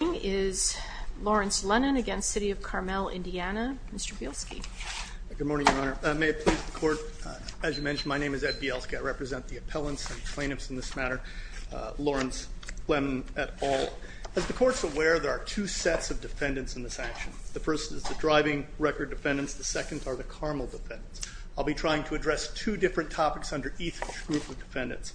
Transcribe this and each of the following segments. is Lawrence Lennon against City of Carmel, Indiana. Mr. Bielski. Good morning, Your Honor. May it please the Court, as you mentioned, my name is Ed Bielski. I represent the appellants and plaintiffs in this matter, Lawrence Lennon et al. As the Court is aware, there are two sets of defendants in this action. The first is the driving record defendants. The second are the Carmel defendants. I'll be trying to address two different topics under each group of defendants.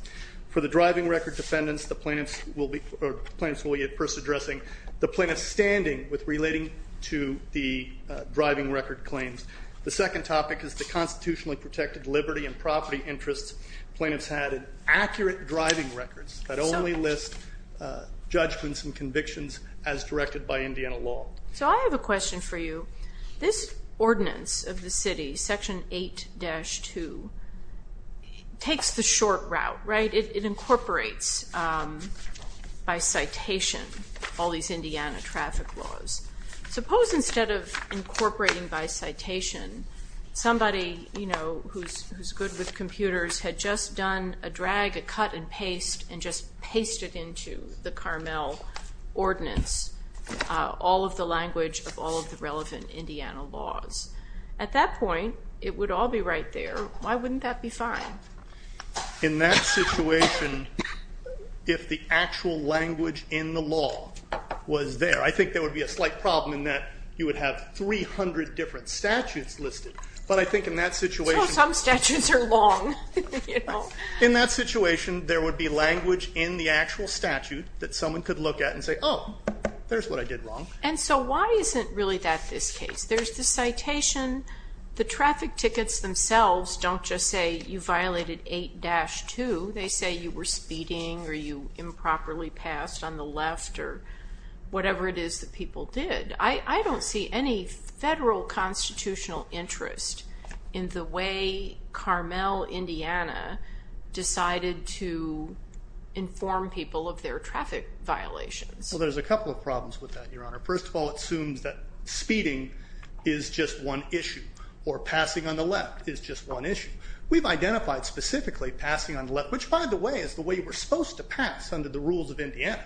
For the driving record defendants, the plaintiffs will be at first addressing the plaintiff's standing with relating to the driving record claims. The second topic is the constitutionally protected liberty and property interests. Plaintiffs had accurate driving records that only list judgments and convictions as directed by Indiana law. So I have a question for you. This ordinance of the city, Section 8-2, takes the short route, right? It incorporates by citation all these Indiana traffic laws. Suppose instead of incorporating by citation, somebody, you know, who's good with computers, had just done a drag, a cut and paste, and just pasted into the Carmel ordinance all of the language of all of the relevant Indiana laws. At that point, it would all be right there. Why wouldn't that be fine? In that situation, if the actual language in the law was there, I think there would be a slight problem in that you would have 300 different statutes listed. But I think in that situation... So some statutes are long, you know. In that situation, there would be language in the actual statute that someone could look at and say, oh, there's what I did wrong. And so why isn't really that this case? There's the citation. The traffic tickets themselves don't just say you violated 8-2. They say you were speeding or you improperly passed on the left or whatever it is that people did. I don't see any federal constitutional interest in the way Carmel, Indiana, decided to inform people of their traffic violations. Well, there's a couple of problems with that, Your Honor. First of all, it assumes that speeding is just one issue or passing on the left is just one issue. We've identified specifically passing on the left, which, by the way, is the way we're supposed to pass under the rules of Indiana.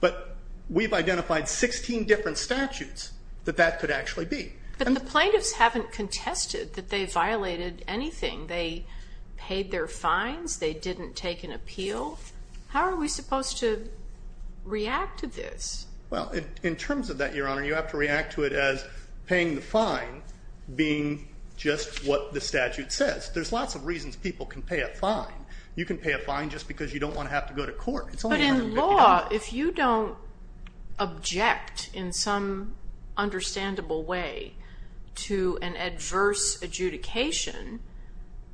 But we've identified 16 different statutes that that could actually be. But the plaintiffs haven't contested that they violated anything. They paid their fines. They didn't take an appeal. How are we supposed to react to this? Well, in terms of that, Your Honor, you have to react to it as paying the fine being just what the statute says. There's lots of reasons people can pay a fine. You can pay a fine just because you don't want to have to go to court. But in law, if you don't object in some understandable way to an adverse adjudication,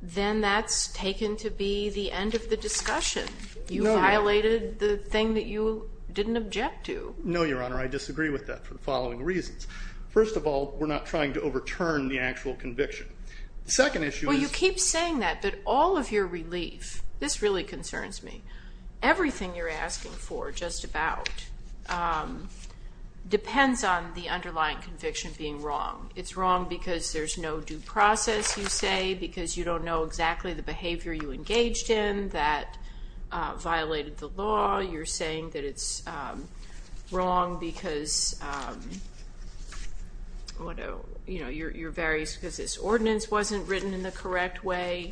then that's taken to be the end of the discussion. You violated the thing that you didn't object to. No, Your Honor. I disagree with that for the following reasons. First of all, we're not trying to overturn the actual conviction. Well, you keep saying that, but all of your relief, this really concerns me. Everything you're asking for, just about, depends on the underlying conviction being wrong. It's wrong because there's no due process, you say, because you don't know exactly the behavior you engaged in that violated the law. You're saying that it's wrong because this ordinance wasn't written in the correct way.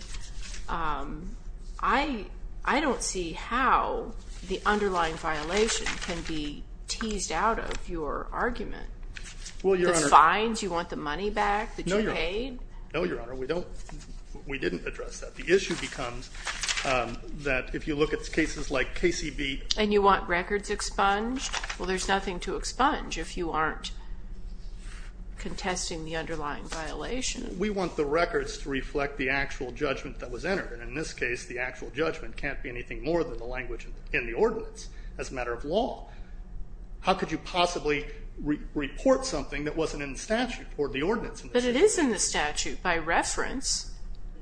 I don't see how the underlying violation can be teased out of your argument. The fines, you want the money back that you paid? No, Your Honor. We didn't address that. The issue becomes that if you look at cases like KCB. And you want records expunged? Well, there's nothing to expunge if you aren't contesting the underlying violation. We want the records to reflect the actual judgment that was entered. In this case, the actual judgment can't be anything more than the language in the ordinance as a matter of law. How could you possibly report something that wasn't in the statute or the ordinance? But it is in the statute by reference.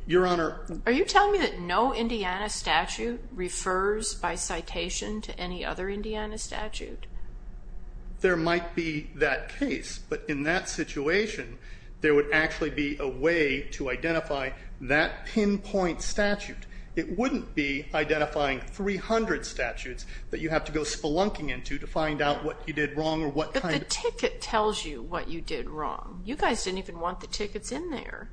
Your Honor. Are you telling me that no Indiana statute refers by citation to any other Indiana statute? There might be that case. But in that situation, there would actually be a way to identify that pinpoint statute. It wouldn't be identifying 300 statutes that you have to go spelunking into to find out what you did wrong or what kind of. But the ticket tells you what you did wrong. You guys didn't even want the tickets in there.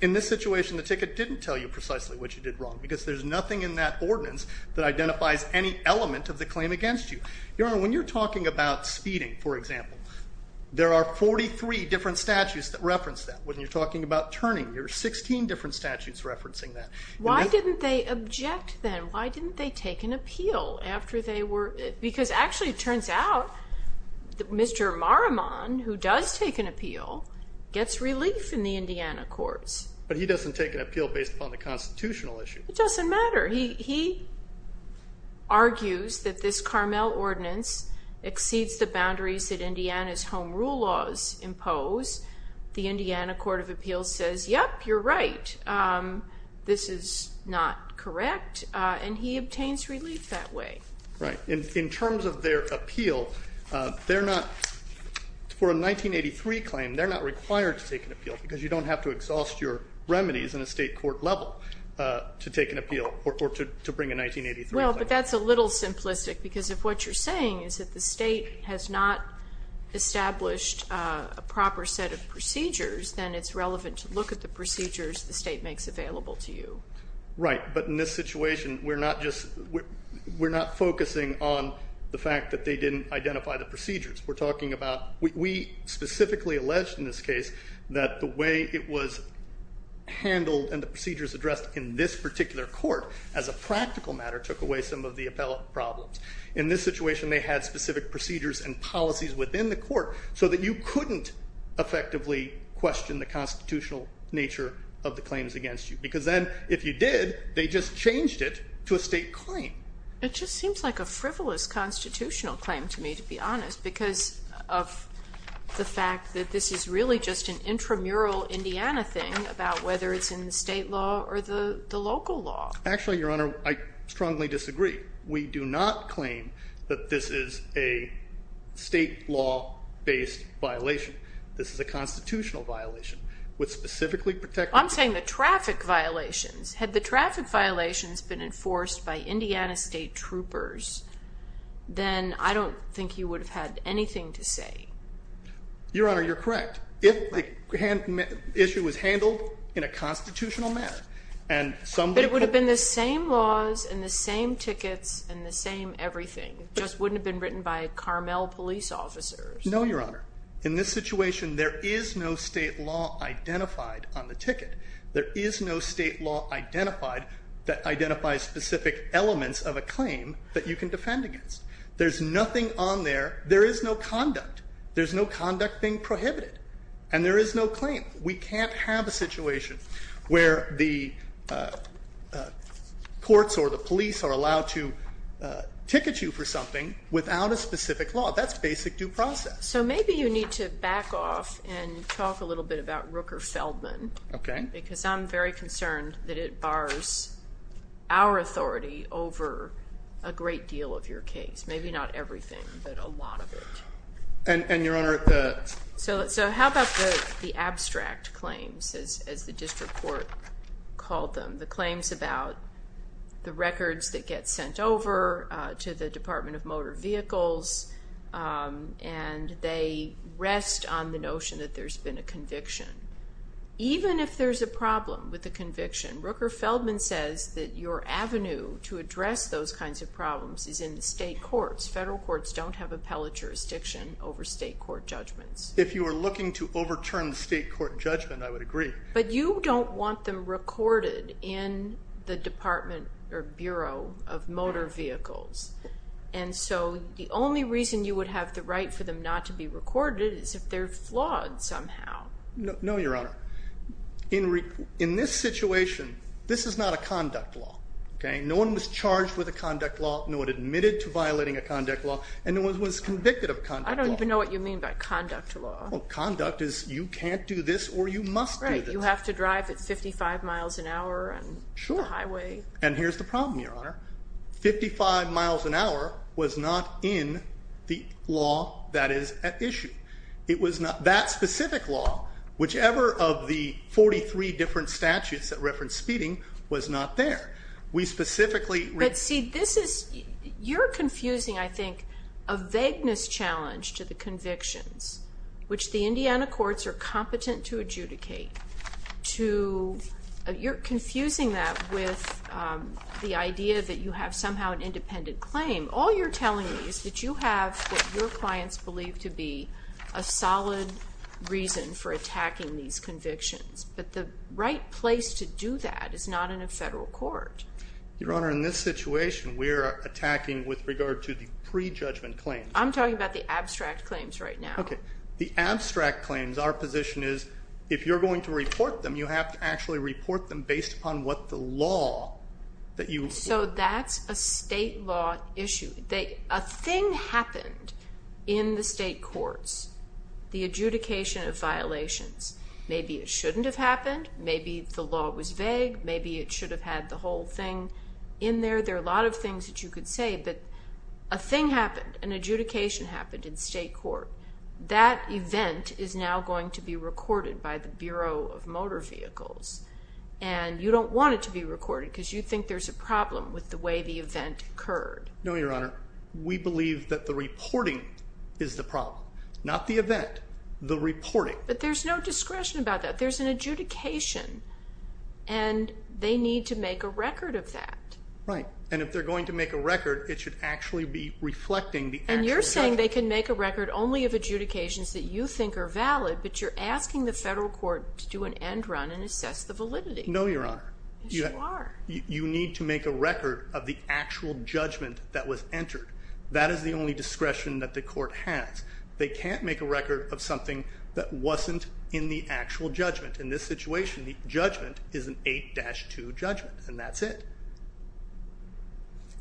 In this situation, the ticket didn't tell you precisely what you did wrong because there's nothing in that ordinance that identifies any element of the claim against you. Your Honor, when you're talking about speeding, for example, there are 43 different statutes that reference that. When you're talking about turning, there are 16 different statutes referencing that. Why didn't they object then? Why didn't they take an appeal after they were? Because actually it turns out that Mr. Maruman, who does take an appeal, gets relief in the Indiana courts. But he doesn't take an appeal based upon the constitutional issue. It doesn't matter. He argues that this Carmel ordinance exceeds the boundaries that Indiana's home rule laws impose. The Indiana Court of Appeals says, yep, you're right. This is not correct. And he obtains relief that way. Right. In terms of their appeal, for a 1983 claim, they're not required to take an appeal because you don't have to exhaust your remedies in a state court level to take an appeal or to bring a 1983 claim. Well, but that's a little simplistic because if what you're saying is that the state has not established a proper set of procedures, then it's relevant to look at the procedures the state makes available to you. Right. But in this situation, we're not focusing on the fact that they didn't identify the procedures. We're talking about we specifically alleged in this case that the way it was handled and the procedures addressed in this particular court as a practical matter took away some of the appellate problems. In this situation, they had specific procedures and policies within the court so that you couldn't effectively question the constitutional nature of the claims against you. Because then, if you did, they just changed it to a state claim. It just seems like a frivolous constitutional claim to me, to be honest, because of the fact that this is really just an intramural Indiana thing about whether it's in the state law or the local law. Actually, Your Honor, I strongly disagree. We do not claim that this is a state law-based violation. This is a constitutional violation. I'm saying the traffic violations. Had the traffic violations been enforced by Indiana state troopers, then I don't think you would have had anything to say. Your Honor, you're correct. If the issue was handled in a constitutional manner and somebody could have… But it would have been the same laws and the same tickets and the same everything. It just wouldn't have been written by Carmel police officers. No, Your Honor. In this situation, there is no state law identified on the ticket. There is no state law identified that identifies specific elements of a claim that you can defend against. There's nothing on there. There is no conduct. There's no conduct being prohibited. And there is no claim. We can't have a situation where the courts or the police are allowed to ticket you for something without a specific law. That's basic due process. So maybe you need to back off and talk a little bit about Rooker Feldman. Okay. Because I'm very concerned that it bars our authority over a great deal of your case. Maybe not everything, but a lot of it. And, Your Honor, the… So how about the abstract claims, as the district court called them? The claims about the records that get sent over to the Department of Motor Vehicles and they rest on the notion that there's been a conviction. Even if there's a problem with the conviction, Rooker Feldman says that your avenue to address those kinds of problems is in the state courts. Federal courts don't have appellate jurisdiction over state court judgments. If you are looking to overturn the state court judgment, I would agree. But you don't want them recorded in the Department or Bureau of Motor Vehicles. And so the only reason you would have the right for them not to be recorded is if they're flawed somehow. No, Your Honor. In this situation, this is not a conduct law. Okay? No one was charged with a conduct law, no one admitted to violating a conduct law, and no one was convicted of conduct law. I don't even know what you mean by conduct law. Well, conduct is you can't do this or you must do this. Right. You have to drive at 55 miles an hour on the highway. Sure. And here's the problem, Your Honor. Fifty-five miles an hour was not in the law that is at issue. It was not that specific law. Whichever of the 43 different statutes that reference speeding was not there. We specifically read. But, see, this is, you're confusing, I think, a vagueness challenge to the convictions, which the Indiana courts are competent to adjudicate, to, you're confusing that with the idea that you have somehow an independent claim. All you're telling me is that you have what your clients believe to be a solid reason for attacking these convictions. But the right place to do that is not in a federal court. Your Honor, in this situation, we're attacking with regard to the prejudgment claims. I'm talking about the abstract claims right now. Okay. The abstract claims, our position is if you're going to report them, you have to actually report them based upon what the law that you... So that's a state law issue. A thing happened in the state courts, the adjudication of violations. Maybe it shouldn't have happened. Maybe the law was vague. Maybe it should have had the whole thing in there. There are a lot of things that you could say. But a thing happened. An adjudication happened in state court. That event is now going to be recorded by the Bureau of Motor Vehicles. And you don't want it to be recorded because you think there's a problem with the way the event occurred. No, Your Honor. We believe that the reporting is the problem. Not the event. The reporting. But there's no discretion about that. There's an adjudication. And they need to make a record of that. Right. And if they're going to make a record, it should actually be reflecting the... You're saying they can make a record only of adjudications that you think are valid, but you're asking the federal court to do an end run and assess the validity. No, Your Honor. Yes, you are. You need to make a record of the actual judgment that was entered. That is the only discretion that the court has. They can't make a record of something that wasn't in the actual judgment. In this situation, the judgment is an 8-2 judgment, and that's it.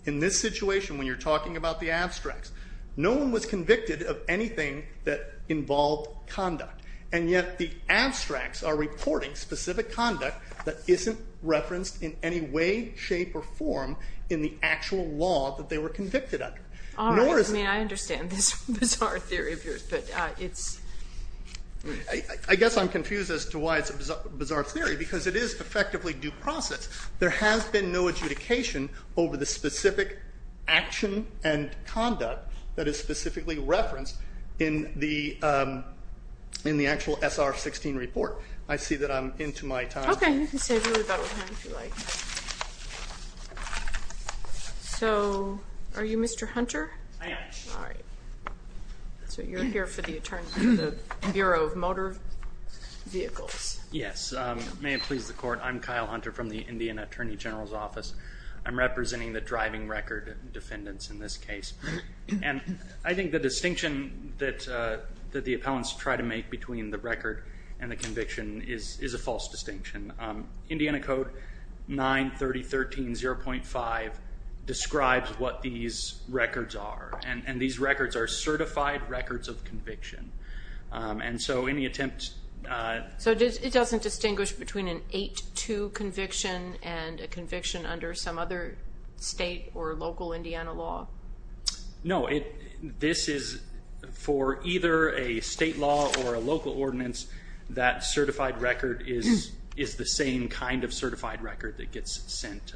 In this situation, when you're talking about the abstracts, no one was convicted of anything that involved conduct, and yet the abstracts are reporting specific conduct that isn't referenced in any way, shape, or form in the actual law that they were convicted under. All right. I mean, I understand this bizarre theory of yours, but it's... I guess I'm confused as to why it's a bizarre theory because it is effectively due process. There has been no adjudication over the specific action and conduct that is specifically referenced in the actual SR-16 report. I see that I'm into my time. Okay. You can save your rebuttal time if you like. So are you Mr. Hunter? I am. All right. So you're here for the Bureau of Motor Vehicles. Yes. May it please the Court. I'm Kyle Hunter from the Indian Attorney General's Office. I'm representing the driving record defendants in this case. And I think the distinction that the appellants try to make between the record and the conviction is a false distinction. Indiana Code 930.13.0.5 describes what these records are, and these records are certified records of conviction. And so any attempt... So it doesn't distinguish between an 8-2 conviction and a conviction under some other state or local Indiana law? No. This is for either a state law or a local ordinance, that certified record is the same kind of certified record that gets sent.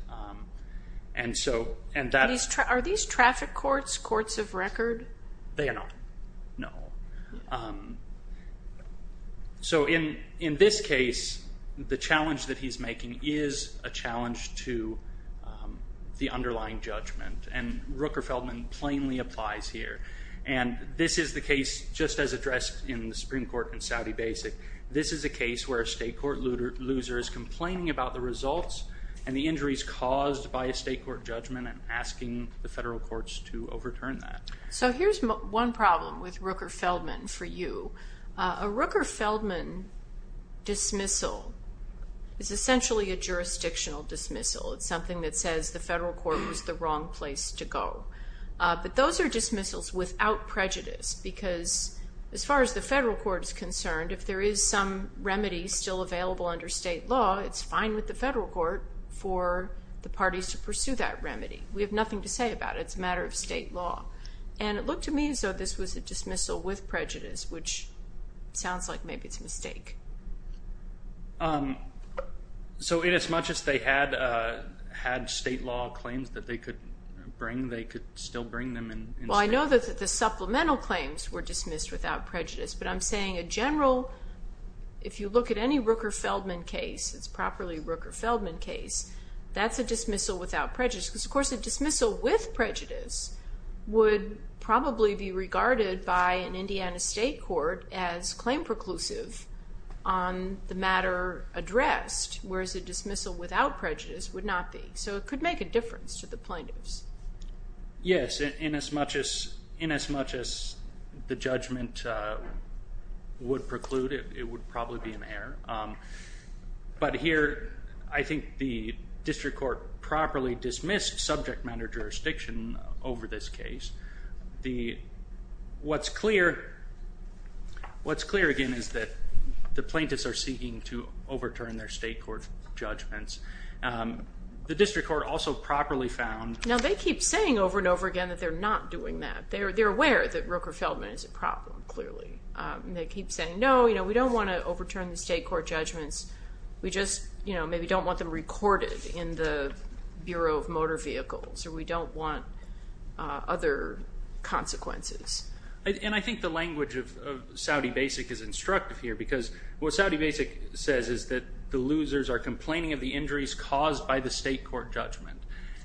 Are these traffic courts courts of record? They are not. No. So in this case, the challenge that he's making is a challenge to the underlying judgment, and Rooker-Feldman plainly applies here. And this is the case, just as addressed in the Supreme Court in Saudi Basic, this is a case where a state court loser is complaining about the results and the injuries caused by a state court judgment and asking the federal courts to overturn that. So here's one problem with Rooker-Feldman for you. A Rooker-Feldman dismissal is essentially a jurisdictional dismissal. It's something that says the federal court was the wrong place to go. But those are dismissals without prejudice, because as far as the federal court is concerned, if there is some remedy still available under state law, it's fine with the federal court for the parties to pursue that remedy. We have nothing to say about it. It's a matter of state law. And it looked to me as though this was a dismissal with prejudice, which sounds like maybe it's a mistake. So inasmuch as they had state law claims that they could bring, they could still bring them in state law? Well, I know that the supplemental claims were dismissed without prejudice, but I'm saying a general, if you look at any Rooker-Feldman case, it's properly a Rooker-Feldman case, that's a dismissal without prejudice, because of course a dismissal with prejudice would probably be regarded by an Indiana state court as claim preclusive on the matter addressed, whereas a dismissal without prejudice would not be. So it could make a difference to the plaintiffs. Yes, inasmuch as the judgment would preclude it, it would probably be an error. But here I think the district court properly dismissed subject matter jurisdiction over this case. What's clear again is that the plaintiffs are seeking to overturn their state court judgments. The district court also properly found. Now they keep saying over and over again that they're not doing that. They're aware that Rooker-Feldman is a problem, clearly. They keep saying, no, we don't want to overturn the state court judgments. We just maybe don't want them recorded in the Bureau of Motor Vehicles, or we don't want other consequences. And I think the language of Saudi Basic is instructive here, because what Saudi Basic says is that the losers are complaining of the injuries caused by the state court judgment.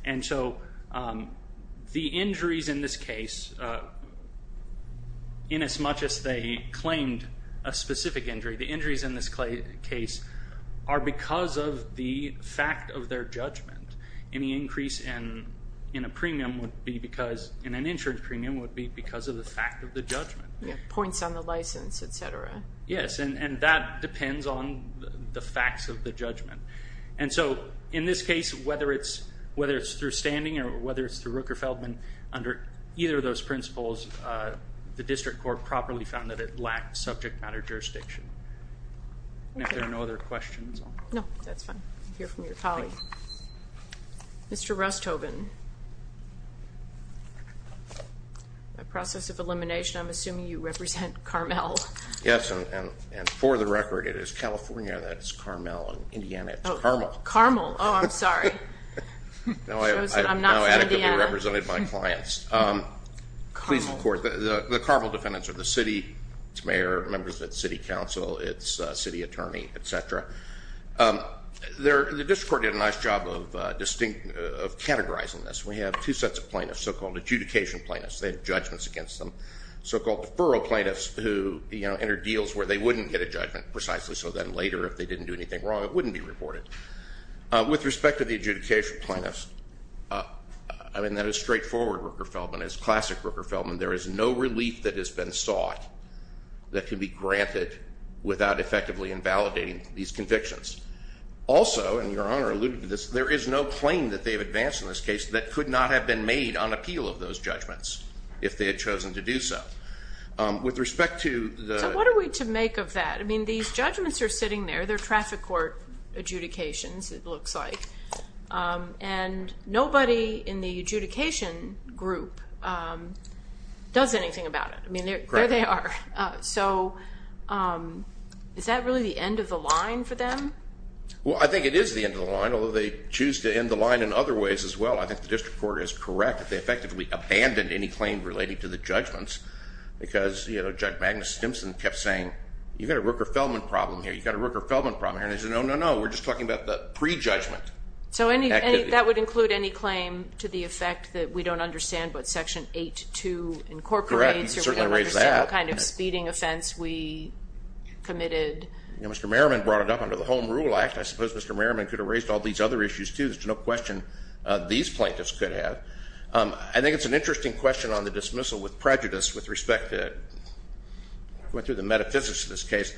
And so the injuries in this case, inasmuch as they claimed a specific injury, the injuries in this case are because of the fact of their judgment. Any increase in an insurance premium would be because of the fact of the judgment. Points on the license, et cetera. Yes, and that depends on the facts of the judgment. And so in this case, whether it's through standing or whether it's through Rooker-Feldman, under either of those principles, the district court properly found that it lacked subject matter jurisdiction. Are there no other questions? No, that's fine. I hear from your colleague. Mr. Rusthoven, by process of elimination, I'm assuming you represent Carmel. Yes, and for the record, it is California that is Carmel and in Indiana it's Carmel. Oh, Carmel. Oh, I'm sorry. I'm not from Indiana. I've now adequately represented my clients. The Carmel defendants are the city, its mayor, members of its city council, its city attorney, et cetera. The district court did a nice job of categorizing this. We have two sets of plaintiffs, so-called adjudication plaintiffs. They have judgments against them. So-called deferral plaintiffs who enter deals where they wouldn't get a judgment precisely so that later, if they didn't do anything wrong, it wouldn't be reported. With respect to the adjudication plaintiffs, I mean, that is straightforward Rooker-Feldman. As classic Rooker-Feldman, there is no relief that has been sought that can be granted without effectively invalidating these convictions. Also, and Your Honor alluded to this, there is no claim that they have advanced in this case that could not have been made on appeal of those judgments if they had chosen to do so. With respect to the- So what are we to make of that? I mean, these judgments are sitting there. They're traffic court adjudications, it looks like. And nobody in the adjudication group does anything about it. I mean, there they are. So is that really the end of the line for them? Well, I think it is the end of the line, although they choose to end the line in other ways as well. I think the district court is correct that they effectively abandoned any claim relating to the judgments because, you know, Judge Magnus Stimson kept saying, you've got a Rooker-Feldman problem here, you've got a Rooker-Feldman problem here. And they said, no, no, no, we're just talking about the prejudgment activity. So that would include any claim to the effect that we don't understand what Section 8-2 incorporates- Correct, you can certainly erase that. Or we don't understand what kind of speeding offense we committed. You know, Mr. Merriman brought it up under the Home Rule Act. I suppose Mr. Merriman could have raised all these other issues too. There's no question these plaintiffs could have. I think it's an interesting question on the dismissal with prejudice with respect to- going through the metaphysics of this case.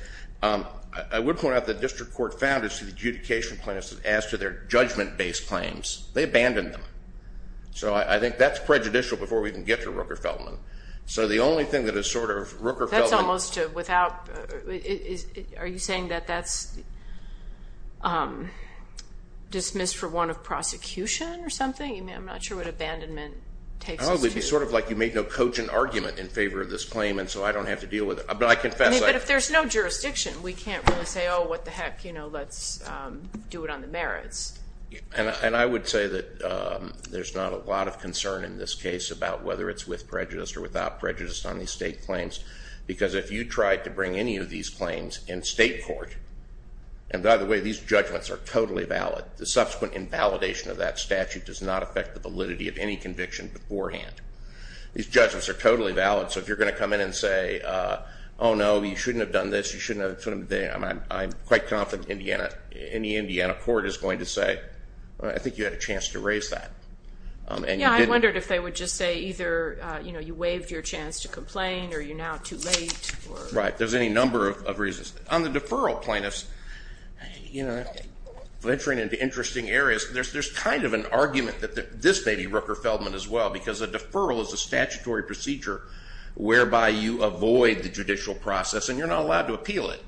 I would point out the district court found its adjudication plaintiffs had asked for their judgment-based claims. They abandoned them. So I think that's prejudicial before we even get to Rooker-Feldman. So the only thing that is sort of Rooker-Feldman- That's almost without- are you saying that that's dismissed for one of prosecution or something? I'm not sure what abandonment takes us to. Oh, it would be sort of like you made no cogent argument in favor of this claim and so I don't have to deal with it. But I confess- But if there's no jurisdiction, we can't really say, oh, what the heck, you know, let's do it on the merits. And I would say that there's not a lot of concern in this case about whether it's with prejudice or without prejudice on these state claims because if you tried to bring any of these claims in state court- and by the way, these judgments are totally valid. The subsequent invalidation of that statute does not affect the validity of any conviction beforehand. These judgments are totally valid. So if you're going to come in and say, oh, no, you shouldn't have done this, you shouldn't have done that, I'm quite confident Indiana- any Indiana court is going to say, well, I think you had a chance to raise that. Yeah, I wondered if they would just say either, you know, you waived your chance to complain or you're now too late or- Right. There's any number of reasons. On the deferral plaintiffs, you know, venturing into interesting areas, there's kind of an argument that this may be Rooker-Feldman as well because a deferral is a statutory procedure whereby you avoid the judicial process and you're not allowed to appeal it.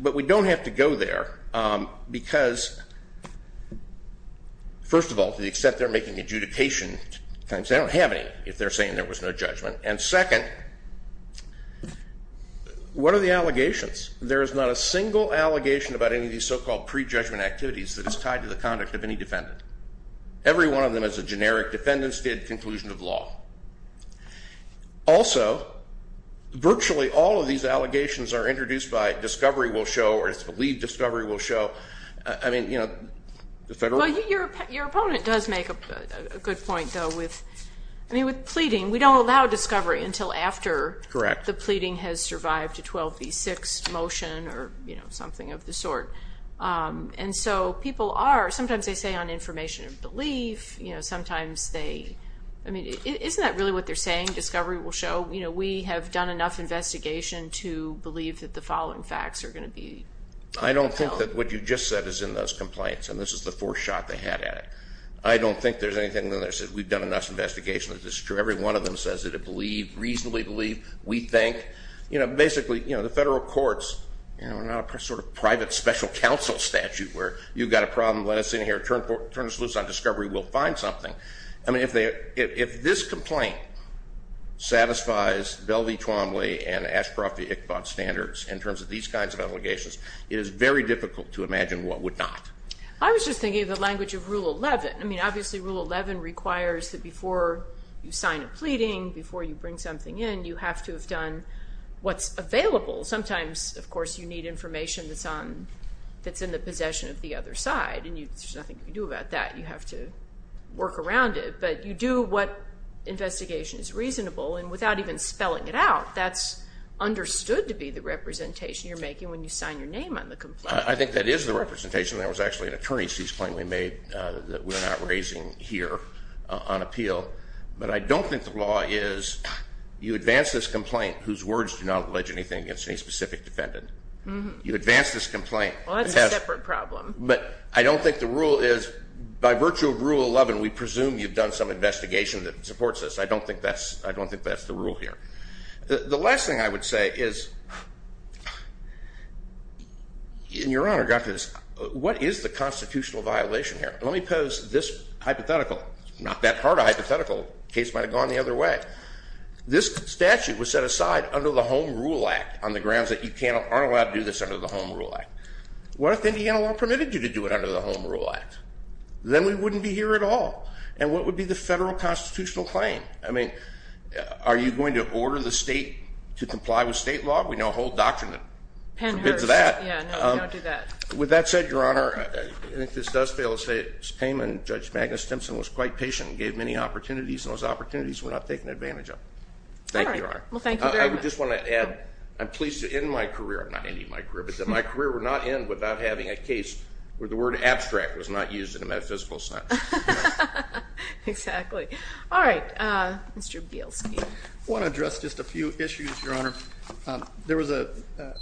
But we don't have to go there because, first of all, to the extent they're making adjudication claims, they don't have any if they're saying there was no judgment. And second, what are the allegations? There is not a single allegation about any of these so-called pre-judgment activities that is tied to the conduct of any defendant. Every one of them is a generic defendant's stated conclusion of law. Also, virtually all of these allegations are introduced by discovery will show or it's believed discovery will show. I mean, you know, the federal- Well, your opponent does make a good point, though, with-I mean, with pleading. We don't allow discovery until after- Correct. The pleading has survived a 12b6 motion or, you know, something of the sort. And so people are-sometimes they say on information of belief, you know, sometimes they-I mean, isn't that really what they're saying, discovery will show? You know, we have done enough investigation to believe that the following facts are going to be- I don't think that what you just said is in those complaints, and this is the fourth shot they had at it. I don't think there's anything in there that says we've done enough investigation that this is true. Every one of them says that it believed, reasonably believed, we think. You know, basically, you know, the federal courts, you know, are not a sort of private special counsel statute where you've got a problem, let us in here, turn us loose on discovery, we'll find something. I mean, if this complaint satisfies Bell v. Twombly and Ashcroft v. Iqbal's standards in terms of these kinds of allegations, it is very difficult to imagine what would not. I was just thinking of the language of Rule 11. I mean, obviously, Rule 11 requires that before you sign a pleading, before you bring something in, you have to have done what's available. Sometimes, of course, you need information that's in the possession of the other side, and there's nothing you can do about that. You have to work around it. But you do what investigation is reasonable, and without even spelling it out, that's understood to be the representation you're making when you sign your name on the complaint. I think that is the representation. There was actually an attorney's case point we made that we're not raising here on appeal. But I don't think the law is you advance this complaint, whose words do not allege anything against any specific defendant. You advance this complaint. Well, that's a separate problem. But I don't think the rule is by virtue of Rule 11, we presume you've done some investigation that supports this. I don't think that's the rule here. The last thing I would say is, and Your Honor got this, what is the constitutional violation here? Let me pose this hypothetical. It's not that hard a hypothetical. The case might have gone the other way. This statute was set aside under the Home Rule Act on the grounds that you aren't allowed to do this under the Home Rule Act. What if Indiana law permitted you to do it under the Home Rule Act? Then we wouldn't be here at all. And what would be the federal constitutional claim? I mean, are you going to order the state to comply with state law? We know a whole doctrine that forbids that. With that said, Your Honor, I think this does fail to say it's payment Judge Magnus Simpson was quite patient and gave many opportunities, and those opportunities were not taken advantage of. Thank you, Your Honor. I would just want to add, I'm pleased to end my career, not ending my career, but that my career would not end without having a case where the word abstract was not used in a metaphysical sense. Exactly. All right. Mr. Bielski. I want to address just a few issues, Your Honor. There was a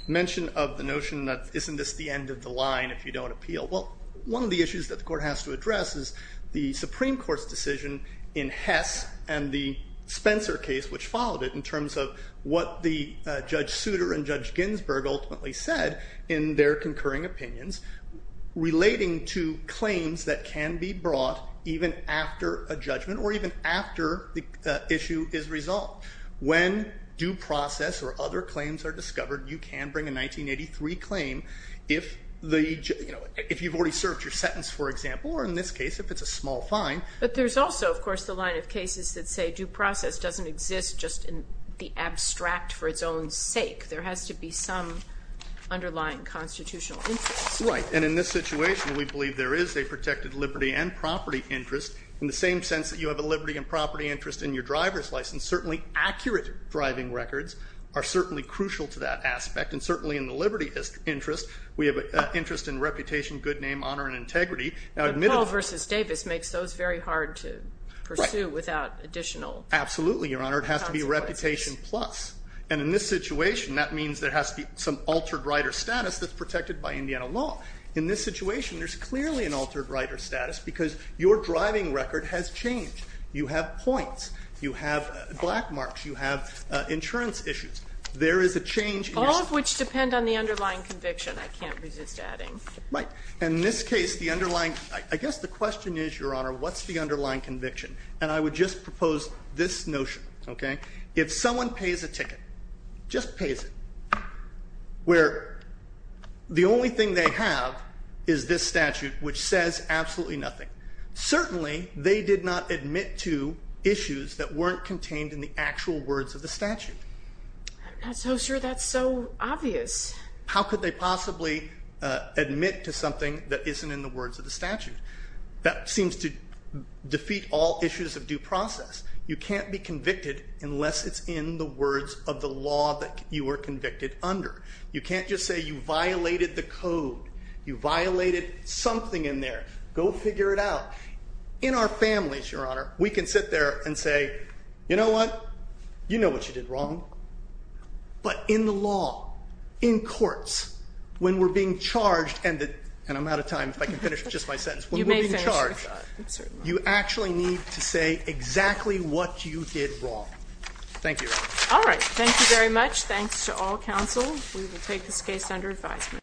mention of the notion that isn't this the end of the line if you don't appeal? Well, one of the issues that the Court has to address is the Supreme Court's decision in Hess and the Spencer case, which followed it, in terms of what Judge Souter and Judge Ginsburg ultimately said in their concurring opinions relating to claims that can be brought even after a judgment or even after the issue is resolved. When due process or other claims are discovered, you can bring a 1983 claim if you've already served your sentence, for example, or in this case if it's a small fine. But there's also, of course, the line of cases that say due process doesn't exist just in the abstract for its own sake. There has to be some underlying constitutional interest. Right. And in this situation, we believe there is a protected liberty and property interest in the same sense that you have a liberty and property interest in your driver's license. Certainly accurate driving records are certainly crucial to that aspect. And certainly in the liberty interest, we have an interest in reputation, good name, honor, and integrity. But Paul v. Davis makes those very hard to pursue without additional consequences. Absolutely, Your Honor. It has to be reputation plus. And in this situation, that means there has to be some altered rider status that's protected by Indiana law. In this situation, there's clearly an altered rider status because your driving record has changed. You have points. You have black marks. You have insurance issues. There is a change in your status. All of which depend on the underlying conviction, I can't resist adding. Right. And in this case, the underlying, I guess the question is, Your Honor, what's the underlying conviction? And I would just propose this notion, okay? If someone pays a ticket, just pays it, where the only thing they have is this statute, which says absolutely nothing. Certainly, they did not admit to issues that weren't contained in the actual words of the statute. I'm not so sure that's so obvious. How could they possibly admit to something that isn't in the words of the statute? That seems to defeat all issues of due process. You can't be convicted unless it's in the words of the law that you were convicted under. You can't just say you violated the code. You violated something in there. Go figure it out. In our families, Your Honor, we can sit there and say, You know what? You know what you did wrong. But in the law, in courts, when we're being charged, and I'm out of time. If I can finish just my sentence. You may finish. You actually need to say exactly what you did wrong. Thank you. All right. Thank you very much. Thanks to all counsel. We will take this case under advisement.